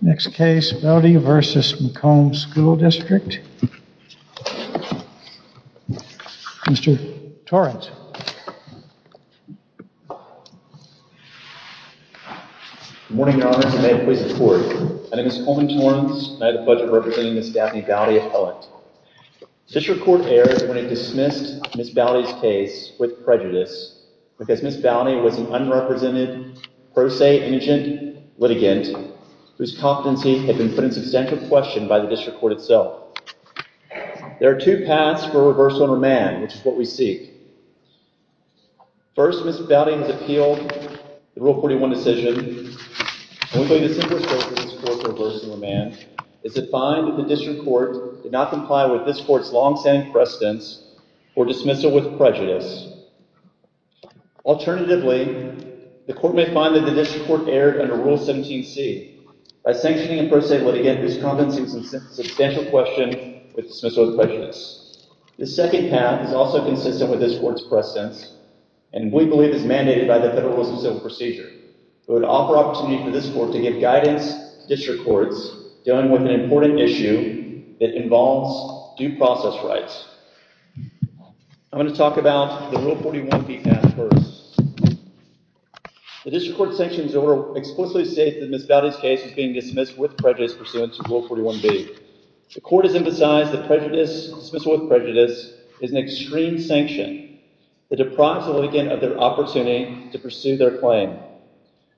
Next case, Boudy v. McComb School District. Mr. Torrance. Good morning, Your Honors. May it please the Court. My name is Coleman Torrance, and I have the pleasure of representing Ms. Daphne Boudy Appellant. District Court erred when it dismissed Ms. Boudy's case with prejudice, because Ms. Boudy was an unrepresented, pro se, indigent litigant, whose competency had been put in substantial question by the District Court itself. There are two paths for reversal in remand, which is what we seek. First, Ms. Boudy has appealed the Rule 41 decision, and we believe the simplest course of this Court for reversal in remand is to find that the District Court did not comply with this Court's long-standing precedence for dismissal with prejudice. Alternatively, the Court may find that the District Court erred under Rule 17c, by sanctioning a pro se litigant whose competency was in substantial question with dismissal with prejudice. The second path is also consistent with this Court's precedence, and we believe is mandated by the Federalism Civil Procedure. We would offer opportunity for this Court to give guidance to District Courts dealing with an important issue that involves due process rights. I'm going to talk about the Rule 41b path first. The District Court sanctions order explicitly states that Ms. Boudy's case is being dismissed with prejudice pursuant to Rule 41b. The Court has emphasized that dismissal with prejudice is an extreme sanction that deprives a litigant of their opportunity to pursue their claim.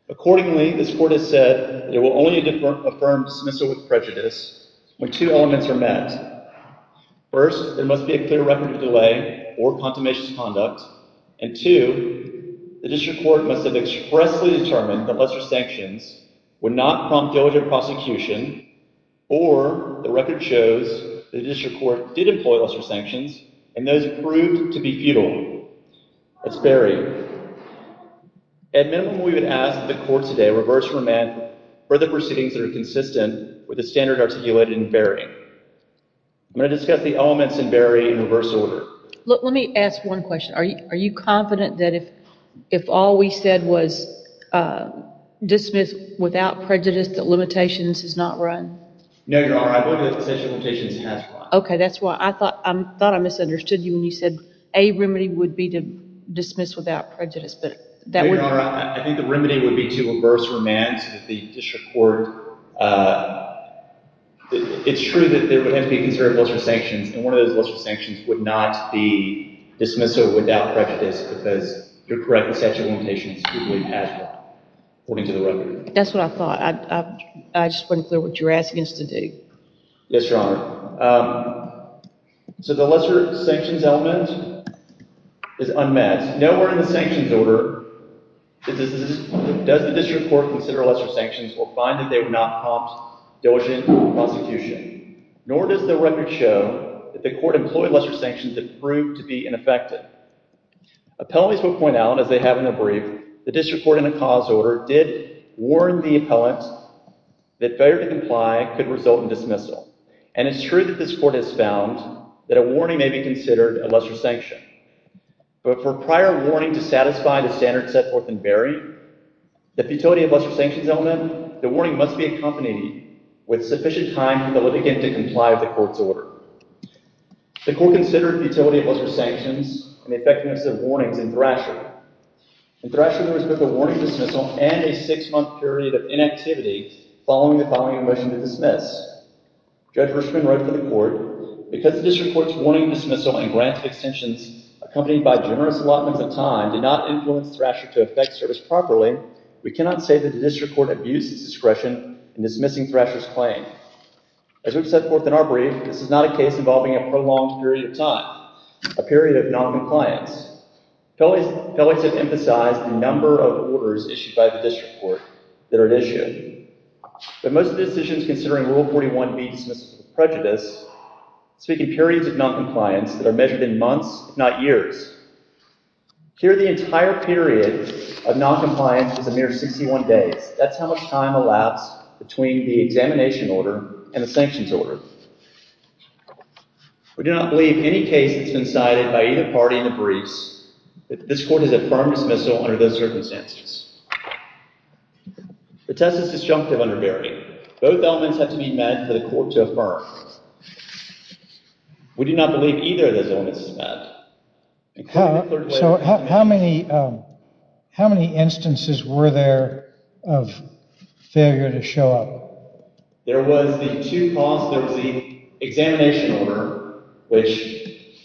Accordingly, this Court has said it will only affirm dismissal with prejudice when two elements are met. First, there must be a clear record of delay or consummation of conduct. And two, the District Court must have expressly determined that lesser sanctions would not prompt diligent prosecution. Or, the record shows that the District Court did employ lesser sanctions, and those proved to be futile. That's buried. At minimum, we would ask that the Court today reverse remand further proceedings that are consistent with the standard articulated in burying. I'm going to discuss the elements in burying in reverse order. Let me ask one question. Are you confident that if all we said was dismiss without prejudice that limitations is not run? No, Your Honor. I believe that the sanction limitations has run. Okay, that's why I thought I misunderstood you when you said a remedy would be to dismiss without prejudice. Your Honor, I think the remedy would be to reverse remand so that the District Court... It's true that there would have to be considered lesser sanctions, and one of those lesser sanctions would not be dismissal without prejudice because you're correct, the sanction limitations would be passed according to the record. That's what I thought. I just wasn't clear what you were asking us to do. Yes, Your Honor. So the lesser sanctions element is unmet. Nowhere in the sanctions order does the District Court consider lesser sanctions or find that they would not prompt diligent prosecution. Nor does the record show that the Court employed lesser sanctions that proved to be ineffective. Appellants will point out, as they have in a brief, the District Court in a cause order did warn the appellant that failure to comply could result in dismissal. And it's true that this Court has found that a warning may be considered a lesser sanction. But for prior warning to satisfy the standard set forth in burying, the futility of lesser sanctions element, the warning must be accompanied with sufficient time for the litigant to comply with the Court's order. The Court considered futility of lesser sanctions and the effectiveness of warnings in Thrasher. In Thrasher, there was both a warning dismissal and a six-month period of inactivity following the following motion to dismiss. Judge Hirschman wrote to the Court, Because the District Court's warning dismissal and grant extensions accompanied by generous allotments of time did not influence Thrasher to effect service properly, we cannot say that the District Court abused its discretion in dismissing Thrasher's claim. As we've set forth in our brief, this is not a case involving a prolonged period of time, a period of noncompliance. Fellows have emphasized the number of orders issued by the District Court that are at issue. But most of the decisions considering Rule 41 meet dismissal prejudice, speaking periods of noncompliance that are measured in months, if not years. Here, the entire period of noncompliance is a mere 61 days. That's how much time elapsed between the examination order and the sanctions order. We do not believe any case that's been cited by either party in the briefs that this Court has affirmed dismissal under those circumstances. The test is disjunctive under Verity. Both elements have to be met for the Court to affirm. We do not believe either of those elements is met. So how many instances were there of failure to show up? There was the two calls, there was the examination order, which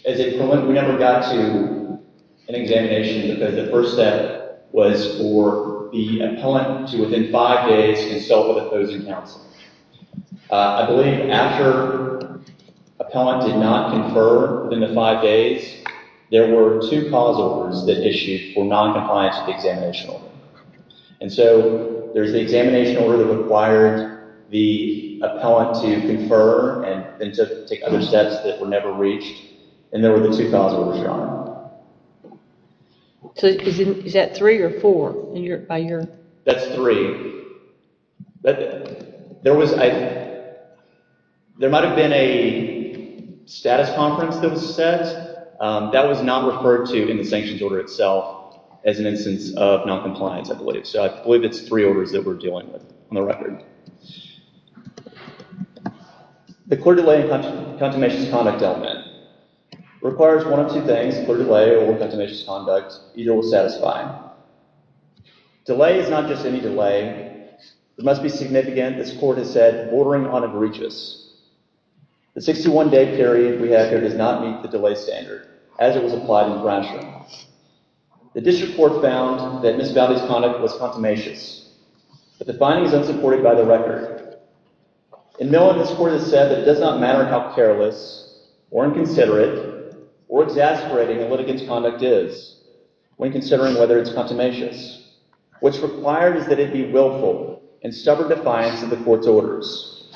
we never got to an examination because the first step was for the appellant to, within five days, consult with opposing counsel. I believe after the appellant did not confer within the five days, there were two cause orders that issued for noncompliance with the examination order. And so there's the examination order that required the appellant to confer and to take other steps that were never reached, and there were the two cause orders, Your Honor. So is that three or four? That's three. There might have been a status conference that was set. That was not referred to in the sanctions order itself as an instance of noncompliance, I believe. So I believe it's three orders that we're dealing with on the record. The clear delay and contumacious conduct element. It requires one of two things, clear delay or contumacious conduct, either will satisfy. Delay is not just any delay. It must be significant, as the Court has said, bordering on egregious. The 61-day period we have here does not meet the delay standard, as it was applied in Brownsville. The District Court found that Ms. Boudy's conduct was contumacious, but the finding is unsupported by the record. In Millen, this Court has said that it does not matter how careless or inconsiderate or exasperating a litigant's conduct is when considering whether it's contumacious. What's required is that it be willful and stubborn defiance of the Court's orders.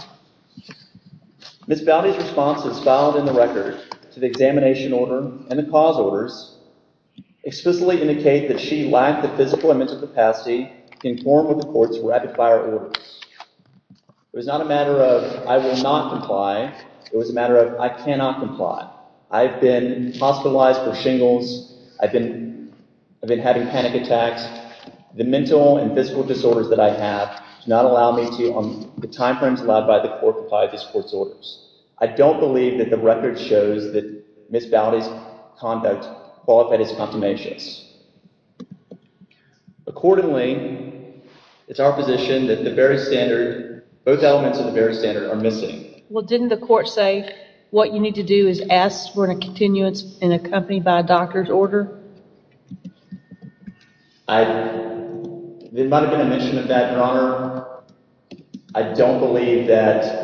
Ms. Boudy's responses filed in the record to the examination order and the cause orders explicitly indicate that she lacked the physical and mental capacity to conform with the Court's rapid-fire orders. It was not a matter of, I will not comply. It was a matter of, I cannot comply. I've been hospitalized for shingles. I've been having panic attacks. The mental and physical disorders that I have do not allow me to, on the time frames allowed by the Court, comply with this Court's orders. I don't believe that the record shows that Ms. Boudy's conduct qualified as contumacious. Accordingly, it's our position that the very standard, both elements of the very standard, are missing. Well, didn't the Court say what you need to do is ask for a continuance and accompany by a doctor's order? I, there might have been a mention of that, Your Honor. I don't believe that,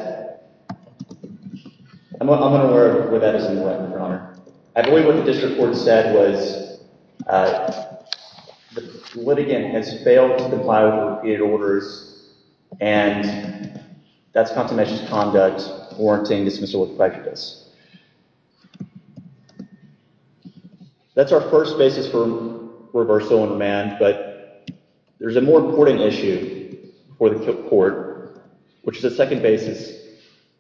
I'm unaware of where that is in the record, Your Honor. I believe what the district court said was the litigant has failed to comply with the repeated orders and that's contumacious conduct warranting dismissal with prejudice. That's our first basis for reversal on demand, but there's a more important issue for the court, which is the second basis,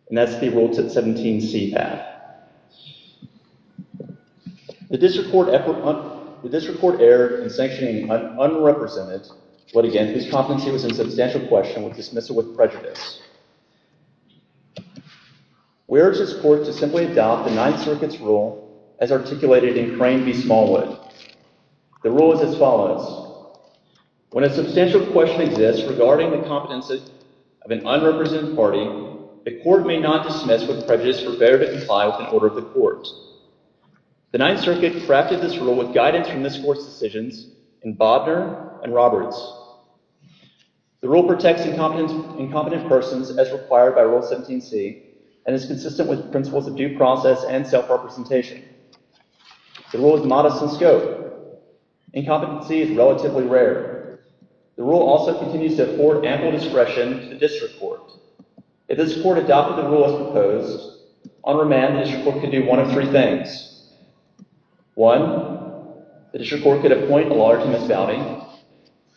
and that's the Rule 17C Act. The district court erred in sanctioning an unrepresented, but again, whose competency was in substantial question, with dismissal with prejudice. We urge this court to simply adopt the Ninth Circuit's rule as articulated in Crane v. Smallwood. The rule is as follows. When a substantial question exists regarding the competency of an unrepresented party, the court may not dismiss with prejudice for failure to comply with an order of the court. The Ninth Circuit crafted this rule with guidance from this Court's decisions in Bobner and Roberts. The rule protects incompetent persons as required by Rule 17C and is consistent with principles of due process and self-representation. The rule is modest in scope. Incompetency is relatively rare. The rule also continues to afford ample discretion to the district court. If this court adopted the rule as proposed, on remand the district court could do one of three things. One, the district court could appoint a lawyer to Ms. Bowdy.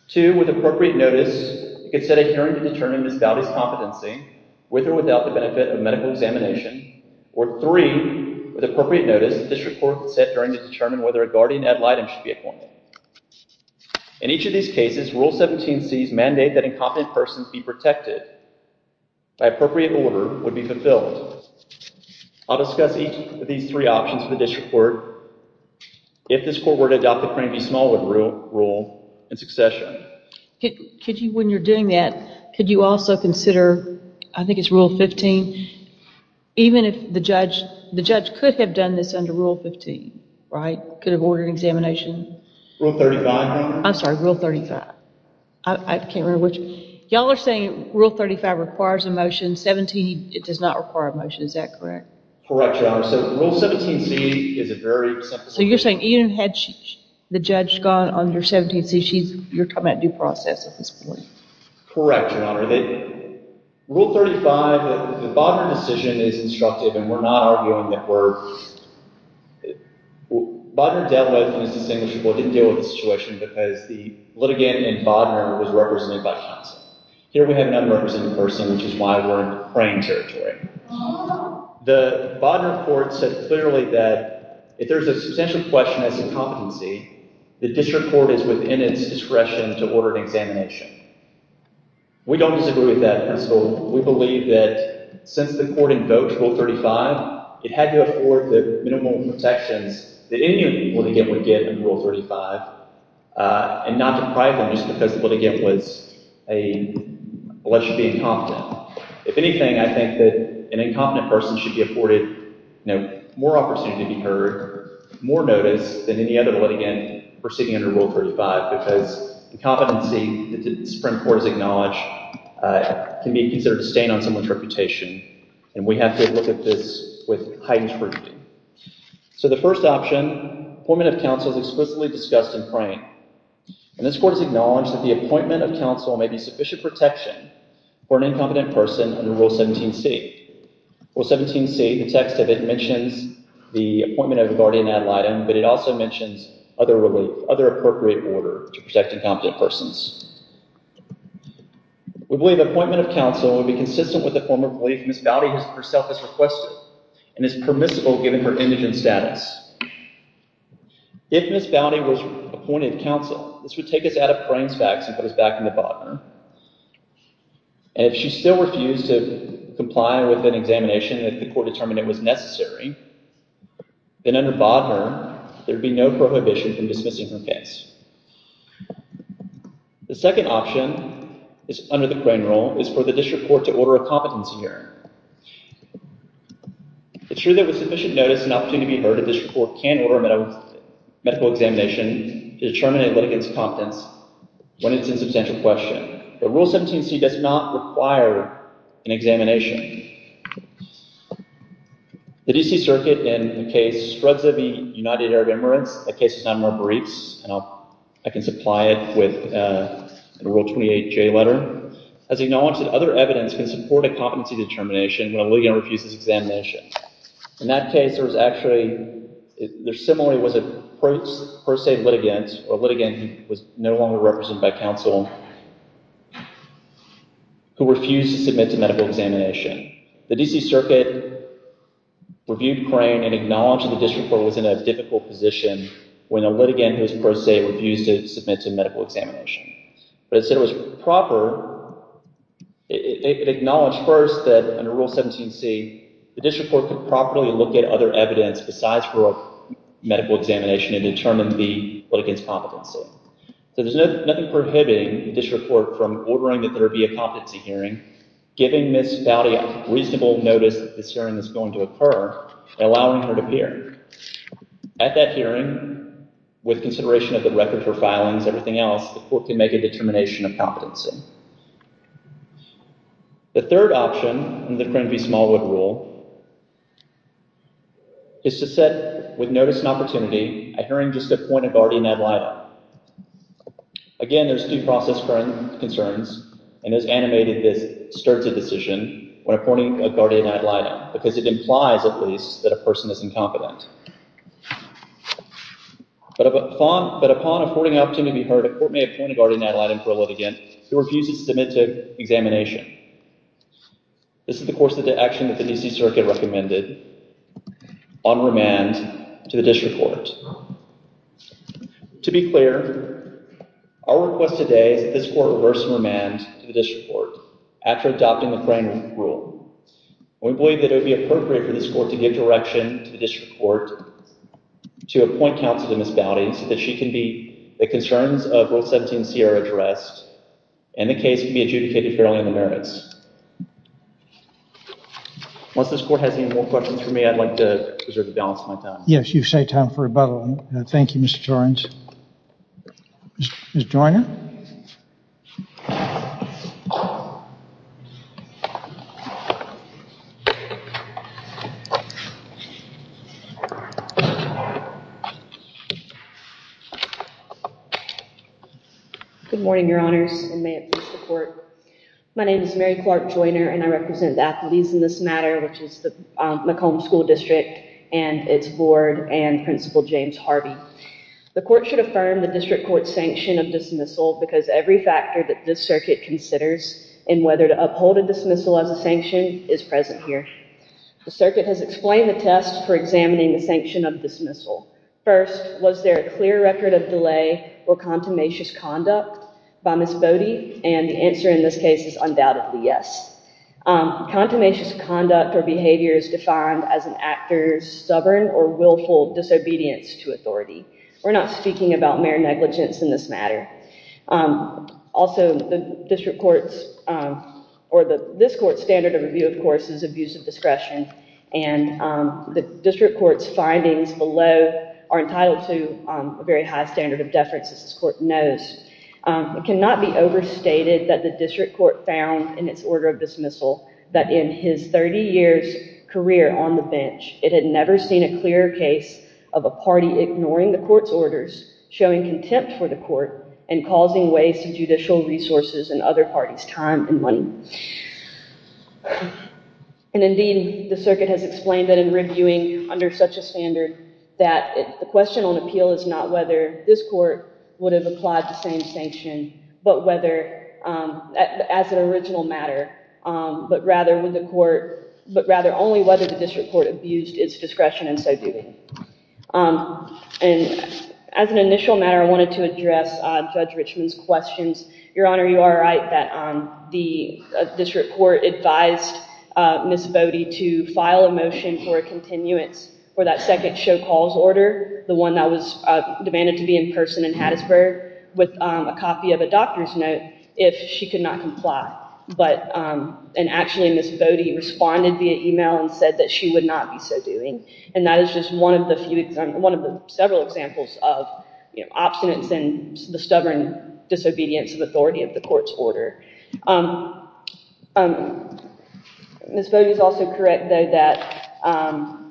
Two, with appropriate notice, it could set a hearing to determine Ms. Bowdy's competency, with or without the benefit of medical examination. Or three, with appropriate notice, the district court could set a hearing to determine whether a guardian ad litem should be appointed. In each of these cases, Rule 17C's mandate that incompetent persons be protected by appropriate order would be fulfilled. I'll discuss each of these three options for the district court. If this court were to adopt the Cranby-Smallwood rule in succession. When you're doing that, could you also consider, I think it's Rule 15, even if the judge could have done this under Rule 15, right? Could have ordered examination. Rule 35. I'm sorry, Rule 35. I can't remember which. Y'all are saying Rule 35 requires a motion. 17, it does not require a motion. Is that correct? Correct, Your Honor. So, Rule 17C is a very... So, you're saying even had the judge gone under 17C, you're talking about due process at this point. Correct, Your Honor. Rule 35, the Bodner decision is instructive and we're not arguing that we're... I don't doubt whether this is distinguishable. I didn't deal with the situation because the litigant in Bodner was represented by Johnson. Here we have an unrepresented person, which is why we're in the Crane territory. The Bodner court said clearly that if there's a substantial question as to competency, the district court is within its discretion to order an examination. We don't disagree with that principle. We believe that since the court invoked Rule 35, it had to afford the minimum protections that any litigant would get under Rule 35. And not deprive them just because the litigant was a... unless you're being confident. If anything, I think that an incompetent person should be afforded more opportunity to be heard, more notice than any other litigant proceeding under Rule 35. We're arguing that because the competency that the Supreme Court has acknowledged can be considered a stain on someone's reputation. And we have to look at this with heightened scrutiny. So the first option, appointment of counsel, is explicitly discussed in Crane. And this court has acknowledged that the appointment of counsel may be sufficient protection for an incompetent person under Rule 17c. Rule 17c, the text of it, mentions the appointment of a guardian ad litem, but it also mentions other appropriate order to protect incompetent persons. We believe appointment of counsel would be consistent with the form of relief Ms. Boudy herself has requested, and is permissible given her indigent status. If Ms. Boudy was appointed counsel, this would take us out of Crane's facts and put us back in the Bodner. And if she still refused to comply with an examination if the court determined it was necessary, then under Bodner, there would be no prohibition from dismissing her case. The second option under the Crane Rule is for the district court to order a competency hearing. It's true that with sufficient notice and opportunity to be heard, a district court can order a medical examination to determine a litigant's competence when it's in substantial question. But Rule 17c does not require an examination. The D.C. Circuit, in the case Svredze v. United Arab Emirates, a case of non-member briefs, and I can supply it with a Rule 28J letter, has acknowledged that other evidence can support a competency determination when a litigant refuses examination. In that case, there similarly was a pro se litigant, or litigant who was no longer represented by counsel, who refused to submit to medical examination. The D.C. Circuit reviewed Crane and acknowledged the district court was in a difficult position when a litigant who was pro se refused to submit to medical examination. But it said it was proper, it acknowledged first that under Rule 17c, the district court could properly look at other evidence besides for a medical examination and determine the litigant's competency. So there's nothing prohibiting the district court from ordering that there be a competency hearing, giving Ms. Fowdy a reasonable notice that this hearing is going to occur, and allowing her to appear. At that hearing, with consideration of the record for filings and everything else, the court can make a determination of competency. The third option in the Cranby-Smallwood Rule is to set, with notice and opportunity, a hearing just to appoint a guardian ad litem. Again, there's due process concerns, and as animated, this starts a decision when appointing a guardian ad litem, because it implies, at least, that a person is incompetent. But upon affording an opportunity to be heard, a court may appoint a guardian ad litem for a litigant who refuses to submit to examination. This is the course of action that the D.C. Circuit recommended on remand to the district court. To be clear, our request today is that this court reverse remand to the district court after adopting the Cranby-Smallwood Rule. We believe that it would be appropriate for this court to give direction to the district court to appoint counsel to Ms. Fowdy so that the concerns of both 17C are addressed and the case can be adjudicated fairly on the merits. Unless this court has any more questions for me, I'd like to preserve the balance of my time. Yes, you've saved time for rebuttal. Thank you, Mr. Jordans. Ms. Joyner? Good morning, Your Honors, and may it please the court. My name is Mary Clark Joyner, and I represent the athletes in this matter, which is the McComb School District and its board and Principal James Harvey. The court should affirm the district court's sanction of dismissal because every factor that this circuit considers in whether to uphold a dismissal as a sanction is present here. The circuit has explained the tests for examining the sanction of dismissal. First, was there a clear record of delay or contumacious conduct by Ms. Fowdy? And the answer in this case is undoubtedly yes. Contumacious conduct or behavior is defined as an actor's stubborn or willful disobedience to authority. We're not speaking about mere negligence in this matter. Also, this court's standard of review, of course, is abuse of discretion, and the district court's findings below are entitled to a very high standard of deference, as this court knows. It cannot be overstated that the district court found in its order of dismissal that in his 30 years career on the bench, it had never seen a clearer case of a party ignoring the court's orders, showing contempt for the court, and causing waste of judicial resources and other parties' time and money. And indeed, the circuit has explained that in reviewing under such a standard that the question on appeal is not whether this court would have applied the same sanction, but whether, as an original matter, but rather only whether the district court abused its discretion in so doing. And as an initial matter, I wanted to address Judge Richman's questions. Your Honor, you are right that the district court advised Ms. Fowdy to file a motion for a continuance for that second show calls order, the one that was demanded to be in person in Hattiesburg, with a copy of a doctor's note if she could not comply. And actually, Ms. Fowdy responded via email and said that she would not be so doing. And that is just one of the several examples of obstinance and the stubborn disobedience of authority of the court's order. Ms. Fowdy is also correct, though, that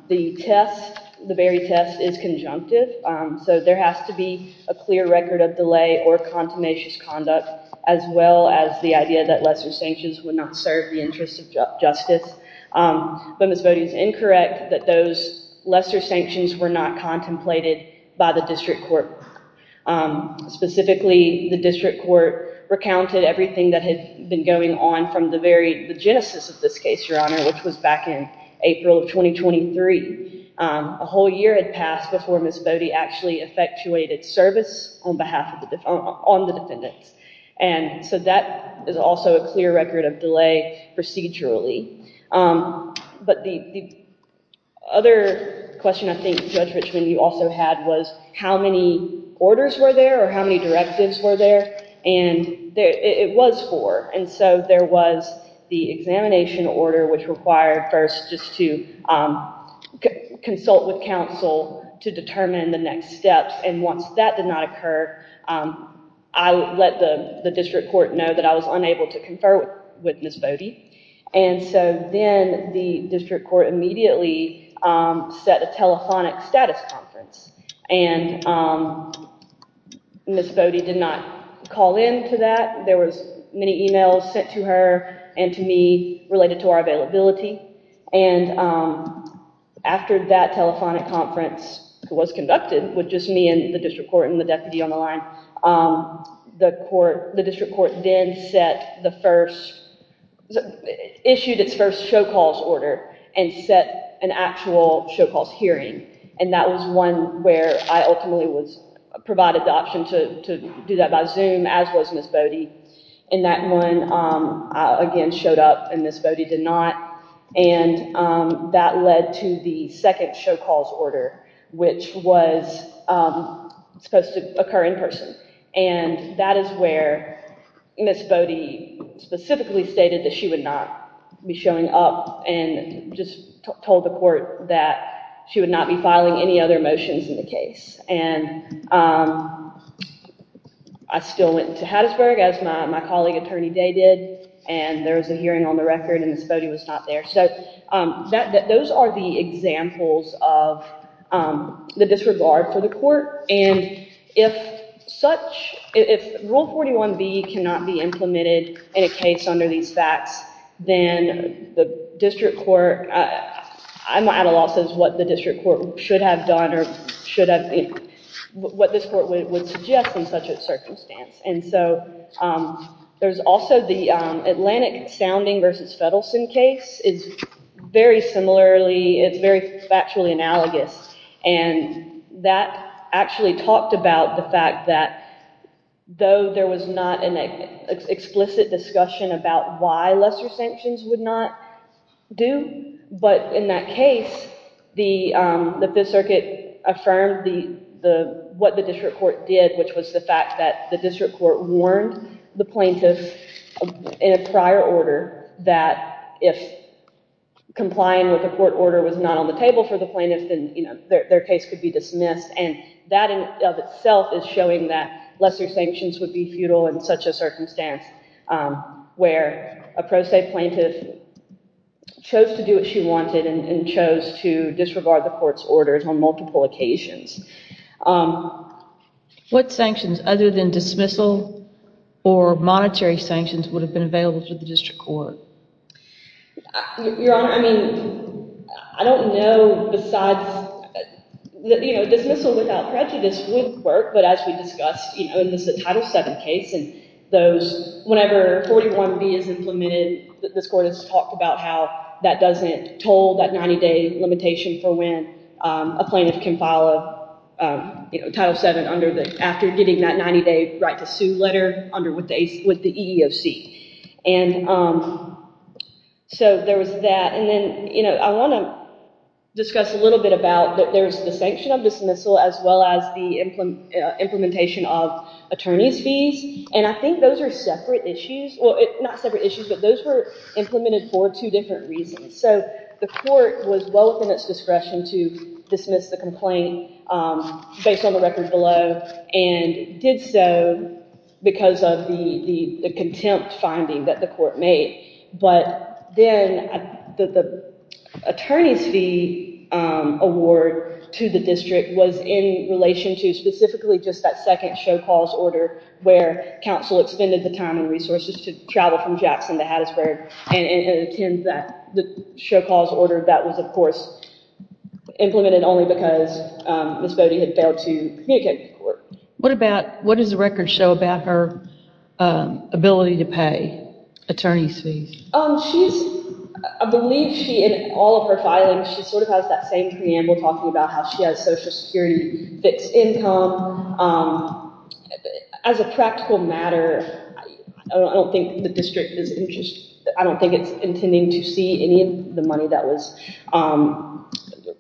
the test, the Berry test, is conjunctive. So there has to be a clear record of delay or contumacious conduct, as well as the idea that lesser sanctions would not serve the interest of justice. But Ms. Fowdy is incorrect that those lesser sanctions were not contemplated by the district court. Specifically, the district court recounted everything that had been going on from the very, the genesis of this case, Your Honor, which was back in April of 2023. A whole year had passed before Ms. Fowdy actually effectuated service on behalf of, on the defendants. And so that is also a clear record of delay procedurally. But the other question, I think, Judge Richmond, you also had was how many orders were there or how many directives were there? And it was four. And so there was the examination order, which required first just to consult with counsel to determine the next steps. And once that did not occur, I let the district court know that I was unable to confer with Ms. Fowdy. And so then the district court immediately set a telephonic status conference. And Ms. Fowdy did not call into that. There was many emails sent to her and to me related to our availability. And after that telephonic conference was conducted with just me and the district court and the deputy on the line, the court, the district court then set the first, issued its first show calls order and set an actual show calls hearing. And that was one where I ultimately was provided the option to do that by Zoom, as was Ms. Fowdy. And that one again showed up and Ms. Fowdy did not. And that led to the second show calls order, which was supposed to occur in person. And that is where Ms. Fowdy specifically stated that she would not be showing up and just told the court that she would not be filing any other motions in the case. And I still went to Hattiesburg, as my colleague Attorney Day did, and there was a hearing on the record and Ms. Fowdy was not there. So those are the examples of the disregard for the court. And if such, if Rule 41B cannot be implemented in a case under these facts, then the district court, I'm at a loss as to what the district court should have done or should have, what this court would suggest in such a circumstance. And so there's also the Atlantic sounding versus Fettersen case. It's very similarly, it's very factually analogous. And that actually talked about the fact that though there was not an explicit discussion about why lesser sanctions would not do, but in that case, the Fifth Circuit affirmed what the district court did, which was the fact that the district court warned the plaintiff in a prior order that if complying with the court order was not on the table for the plaintiff, then their case could be dismissed. And that in of itself is showing that lesser sanctions would be futile in such a circumstance where a pro se plaintiff chose to do what she wanted and chose to disregard the court's orders on multiple occasions. What sanctions other than dismissal or monetary sanctions would have been available to the district court? Your Honor, I mean, I don't know besides, you know, dismissal without prejudice would work. But as we discussed, you know, this is a Title VII case and those, whenever 41B is implemented, this court has talked about how that doesn't toll that 90 day limitation for when a plaintiff can file a Title VII under the, after getting that 90 day right to sue letter under with the EEOC. And so there was that. And then, you know, I want to discuss a little bit about that there's the sanction of dismissal as well as the implementation of attorney's fees. And I think those are separate issues. Well, not separate issues, but those were implemented for two different reasons. So the court was well within its discretion to dismiss the complaint based on the record below and did so because of the contempt finding that the court made. But then the attorney's fee award to the district was in relation to specifically just that second show cause order where counsel expended the time and resources to travel from Jackson to Hattiesburg and attend that show cause order that was, of course, implemented only because Ms. Bode had failed to communicate to the court. What about, what does the record show about her ability to pay attorney's fees? She's, I believe she, in all of her filings, she sort of has that same preamble talking about how she has Social Security fixed income. As a practical matter, I don't think the district is, I don't think it's intending to see any of the money that was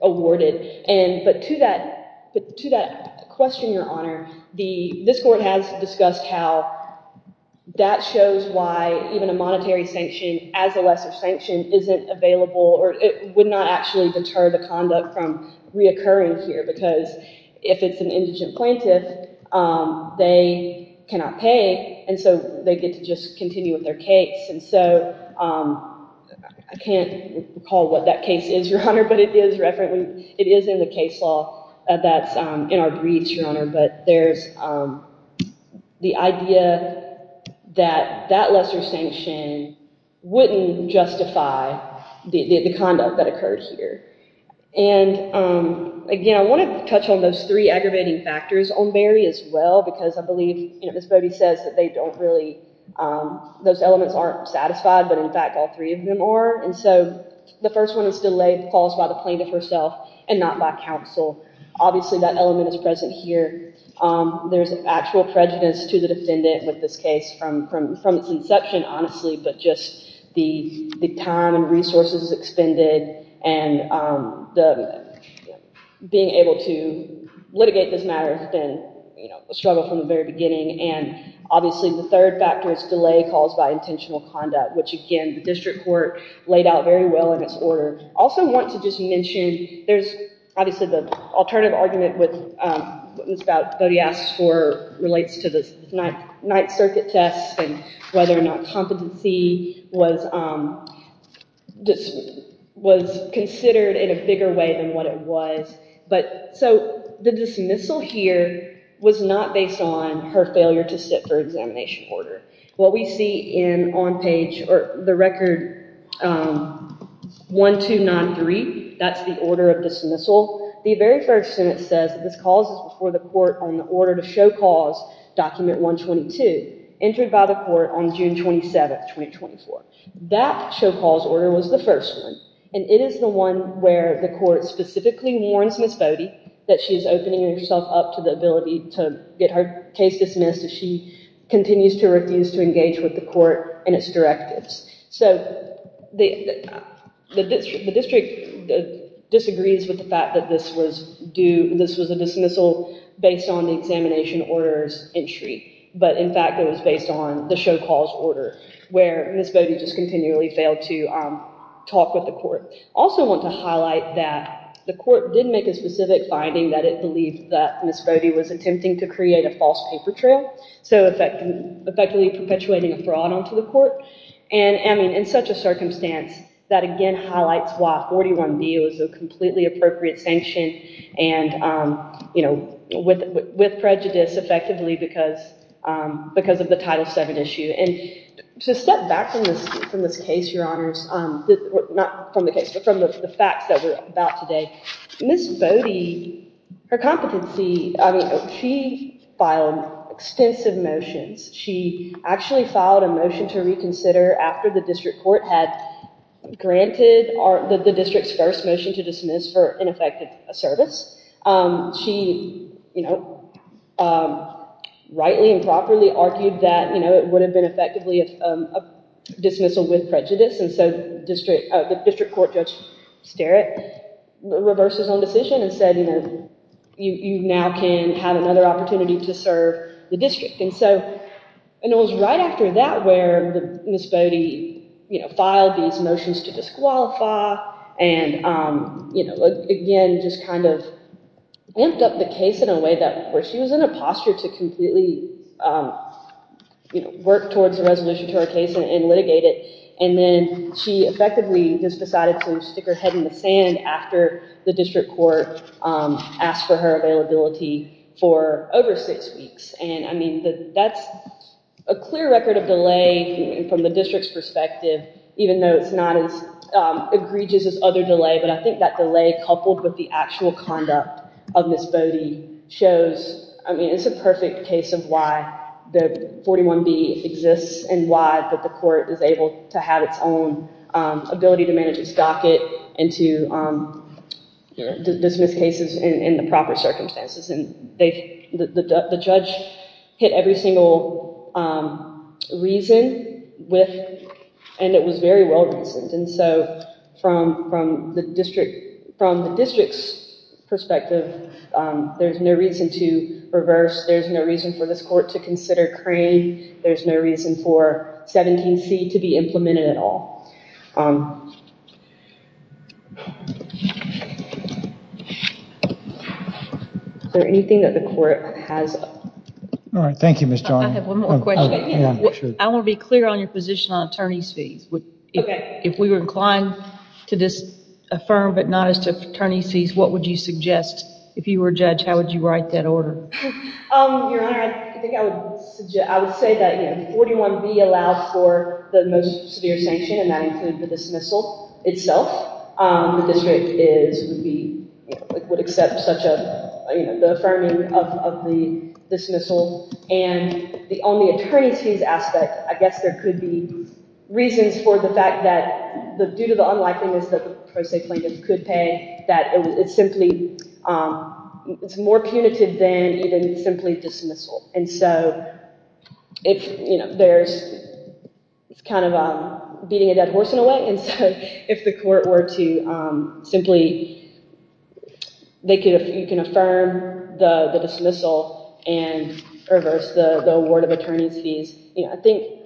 awarded. But to that question, Your Honor, this court has discussed how that shows why even a monetary sanction as a lesser sanction isn't available or it would not actually deter the conduct from reoccurring here. Because if it's an indigent plaintiff, they cannot pay and so they get to just continue with their case. And so I can't recall what that case is, Your Honor, but it is in the case law that's in our briefs, Your Honor. But there's the idea that that lesser sanction wouldn't justify the conduct that occurred here. And again, I want to touch on those three aggravating factors on Berry as well, because I believe Ms. Bode says that they don't really, those elements aren't satisfied, but in fact all three of them are. And so the first one is delay caused by the plaintiff herself and not by counsel. Obviously that element is present here. There's actual prejudice to the defendant with this case from its inception, honestly, but just the time and resources expended and being able to litigate this matter has been a struggle from the very beginning. And obviously the third factor is delay caused by intentional conduct, which again, the district court laid out very well in its order. I also want to just mention, there's obviously the alternative argument with what Ms. Bode asked for relates to the Ninth Circuit test and whether or not competency was considered in a bigger way than what it was. But so the dismissal here was not based on her failure to sit for examination order. What we see in on page, or the record 1293, that's the order of dismissal. The very first sentence says that this cause is before the court on the order to show cause document 122, entered by the court on June 27th, 2024. That show cause order was the first one, and it is the one where the court specifically warns Ms. Bode that she's opening herself up to the ability to get her case dismissed if she continues to refuse to engage with the court and its directives. So the district disagrees with the fact that this was a dismissal based on the examination order's entry. But in fact, it was based on the show cause order, where Ms. Bode just continually failed to talk with the court. I also want to highlight that the court did make a specific finding that it believed that Ms. Bode was attempting to create a false paper trail, so effectively perpetuating a fraud onto the court. And in such a circumstance, that again highlights why 41B was a completely appropriate sanction with prejudice, effectively, because of the Title VII issue. And to step back from this case, Your Honors, not from the case, but from the facts that we're about today, Ms. Bode, her competency, I mean, she filed extensive motions. She actually filed a motion to reconsider after the district court had granted the district's first motion to dismiss for ineffective service. She rightly and properly argued that it would have been effectively a dismissal with prejudice. And so the district court Judge Sterritt reversed his own decision and said, you know, you now can have another opportunity to serve the district. And it was right after that where Ms. Bode filed these motions to disqualify and again, just kind of amped up the case in a way where she was in a posture to completely work towards a resolution to her case and litigate it. And then she effectively just decided to stick her head in the sand after the district court asked for her availability for over six weeks. And I mean, that's a clear record of delay from the district's perspective, even though it's not as egregious as other delay. But I think that delay coupled with the actual conduct of Ms. Bode shows, I mean, it's a perfect case of why the 41B exists and why the court is able to have its own ability to manage its docket and to dismiss cases in the proper circumstances. The judge hit every single reason and it was very well reasoned. And so from the district's perspective, there's no reason to reverse. There's no reason for this court to consider Crane. There's no reason for 17C to be implemented at all. Is there anything that the court has? All right. Thank you, Ms. Joyner. I have one more question. I want to be clear on your position on attorney's fees. If we were inclined to disaffirm but not as to attorney's fees, what would you suggest? If you were a judge, how would you write that order? Your Honor, I think I would say that 41B allowed for the most severe sanction and that included the dismissal itself. The district would accept the affirming of the dismissal. And on the attorney's fees aspect, I guess there could be reasons for the fact that due to the unlikeliness that the pro se plaintiff could pay, that it's simply more punitive than even simply dismissal. And so it's kind of beating a dead horse in a way. And so if the court were to simply, you can affirm the dismissal and reverse the award of attorney's fees. I think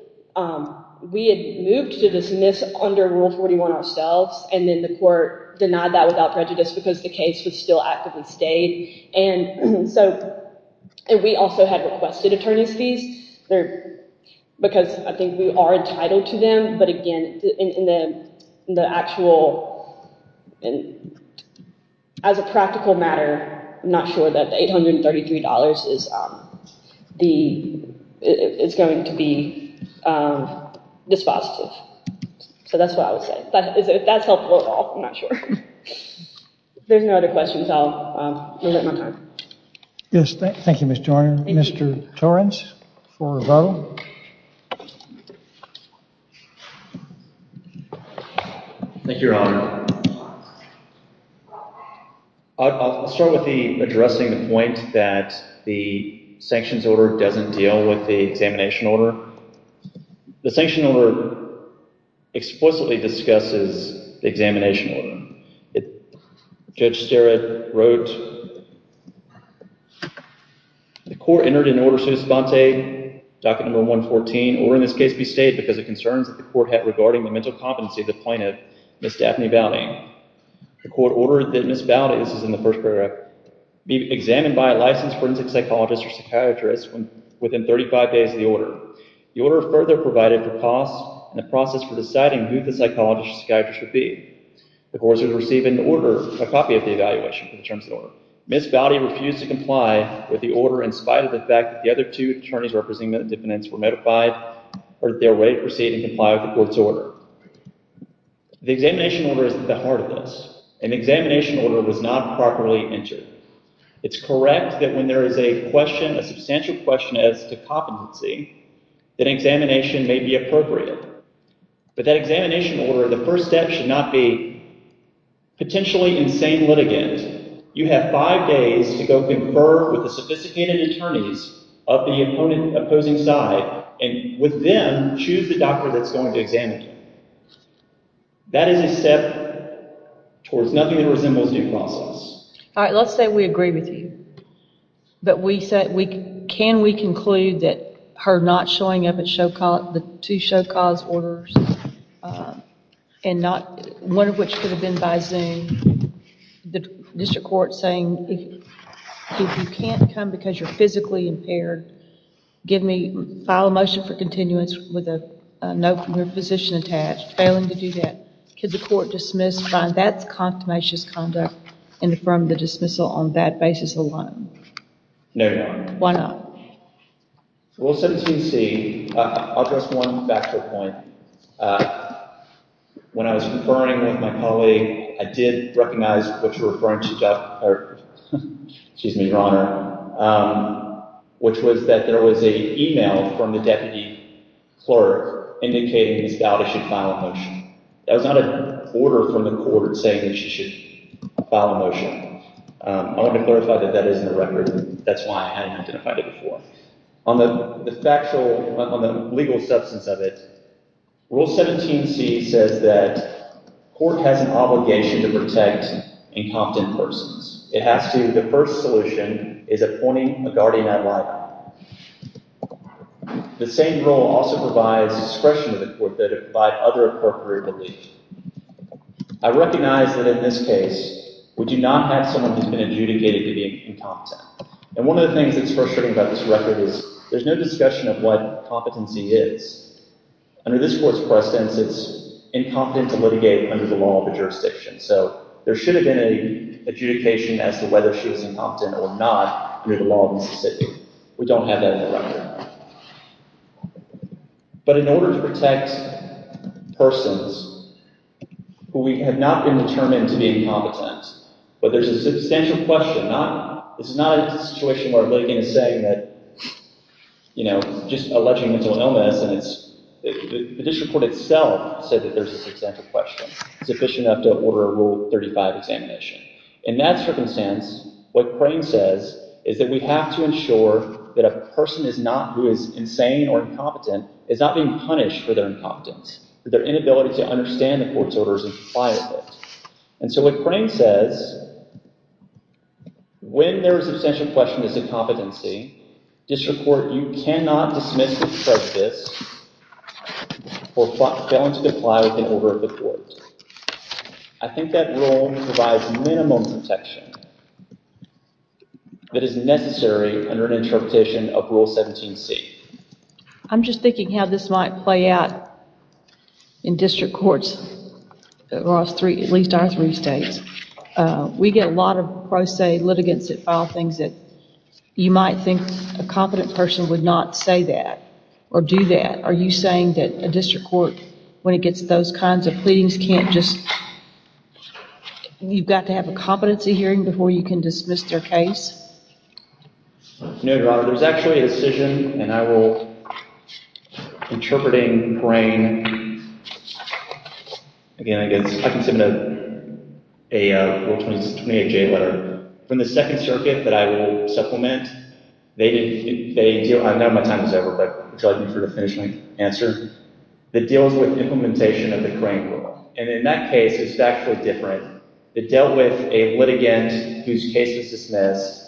we had moved to dismiss under Rule 41 ourselves. And then the court denied that without prejudice because the case was still actively stayed. And we also had requested attorney's fees because I think we are entitled to them. But again, as a practical matter, I'm not sure that $833 is going to be dispositive. So that's what I would say. If that's helpful at all, I'm not sure. If there's no other questions, I'll limit my time. Yes. Thank you, Mr. Honor. Thank you. Mr. Torrence for rebuttal. Thank you, Your Honor. I'll start with the addressing the point that the sanctions order doesn't deal with the examination order. The sanction order explicitly discusses the examination order. Judge Sterrett wrote, The court entered an order sui savante, docket number 114, order in this case be stayed because of concerns that the court had regarding the mental competency of the plaintiff, Ms. Daphne Bowding. The court ordered that Ms. Bowding, this is in the first paragraph, be examined by a licensed forensic psychologist or psychiatrist within 35 days of the order. The order further provided for costs and the process for deciding who the psychologist or psychiatrist would be. The court would receive an order, a copy of the evaluation for the terms of the order. Ms. Bowding refused to comply with the order in spite of the fact that the other two attorneys representing the defendants were notified or their way to proceed and comply with the court's order. The examination order is at the heart of this. An examination order was not properly entered. It's correct that when there is a question, a substantial question as to competency, that examination may be appropriate. But that examination order, the first step should not be potentially insane litigant. You have five days to go confer with the sophisticated attorneys of the opposing side and with them, choose the doctor that's going to examine you. That is a step towards nothing that resembles due process. All right, let's say we agree with you. But can we conclude that her not showing up at the two Show Cause orders, one of which could have been by Zoom, the district court saying if you can't come because you're physically impaired, file a motion for continuance with a note from your physician attached. Failing to do that, could the court dismiss, find that's a consummation conduct and affirm the dismissal on that basis alone? No, Your Honor. Why not? Well, 17C, I'll address one factor point. When I was conferring with my colleague, I did recognize what you're referring to, Your Honor, which was that there was an email from the deputy clerk indicating his daughter should file a motion. That was not an order from the court saying that she should file a motion. I want to clarify that that is in the record. That's why I hadn't identified it before. On the factual, on the legal substance of it, Rule 17C says that court has an obligation to protect incompetent persons. It has to. The first solution is appointing a guardian ad litem. The same rule also provides discretion to the court to provide other appropriate relief. I recognize that in this case, we do not have someone who's been adjudicated to be incompetent. And one of the things that's frustrating about this record is there's no discussion of what competency is. Under this court's precedence, it's incompetent to litigate under the law of the jurisdiction. So there should have been an adjudication as to whether she was incompetent or not under the law of Mississippi. We don't have that in the record. But in order to protect persons who have not been determined to be incompetent, but there's a substantial question. It's not a situation where a litigant is saying that, you know, just alleging mental illness. The district court itself said that there's a substantial question. It's sufficient enough to order a Rule 35 examination. In that circumstance, what Crane says is that we have to ensure that a person is not, who is insane or incompetent, is not being punished for their incompetence, for their inability to understand the court's orders and comply with it. And so what Crane says, when there is a substantial question as to competency, district court, you cannot dismiss the prejudice for failing to comply with an order of the court. I think that rule provides minimum protection that is necessary under an interpretation of Rule 17c. I'm just thinking how this might play out in district courts across at least our three states. We get a lot of pro se litigants that file things that you might think a competent person would not say that or do that. Are you saying that a district court, when it gets those kinds of pleadings, can't just, you've got to have a competency hearing before you can dismiss their case? No, Your Honor. There's actually a decision, and I will, interpreting Crane, again, I can submit a Rule 28j letter. From the Second Circuit that I will supplement, they deal, I don't know how much time is left, but charge me for the finishing answer, that deals with implementation of the Crane rule. And in that case, it's actually different. It dealt with a litigant whose case was dismissed,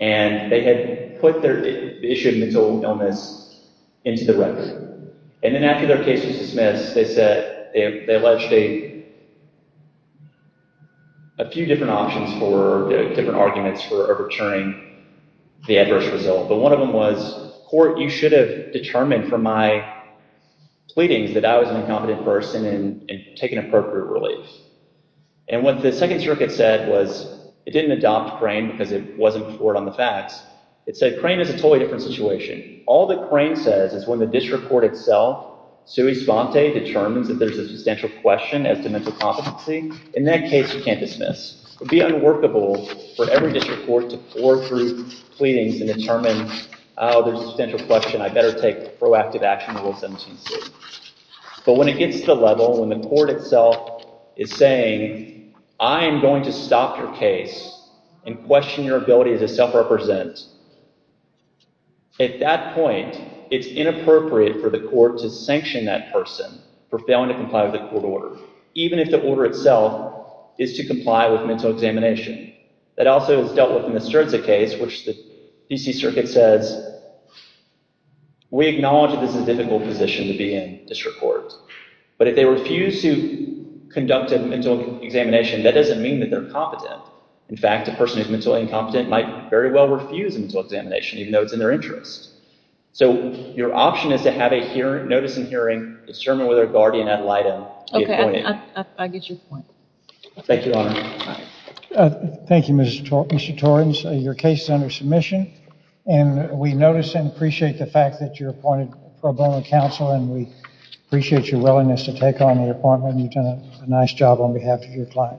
and they had put the issue of mental illness into the record. And then after their case was dismissed, they said, they alleged a few different options for, different arguments for overturning the adverse result. But one of them was, court, you should have determined from my pleadings that I was an incompetent person and taken appropriate relief. And what the Second Circuit said was, it didn't adopt Crane because it wasn't before it on the facts. It said, Crane is a totally different situation. All that Crane says is when the district court itself, sui sponte, determines that there's a substantial question as to mental competency, in that case, you can't dismiss. It would be unworkable for every district court to floor through pleadings and determine, oh, there's a substantial question, I better take proactive action in Rule 17c. But when it gets to the level when the court itself is saying, I am going to stop your case and question your ability to self-represent, at that point, it's inappropriate for the court to sanction that person for failing to comply with the court order, even if the order itself is to comply with mental examination. That also is dealt with in the Sturza case, which the D.C. Circuit says, we acknowledge that this is a difficult position to be in, district court. But if they refuse to conduct a mental examination, that doesn't mean that they're competent. In fact, a person who's mentally incompetent might very well refuse a mental examination, even though it's in their interest. So your option is to have a hearing, notice and hearing, determine whether a guardian ad litem be appointed. Okay, I get your point. Thank you, Your Honor. Thank you, Mr. Torrance. Your case is under submission. And we notice and appreciate the fact that you're appointed pro bono counsel, and we appreciate your willingness to take on the appointment. You've done a nice job on behalf of your client. Thank you, Your Honor.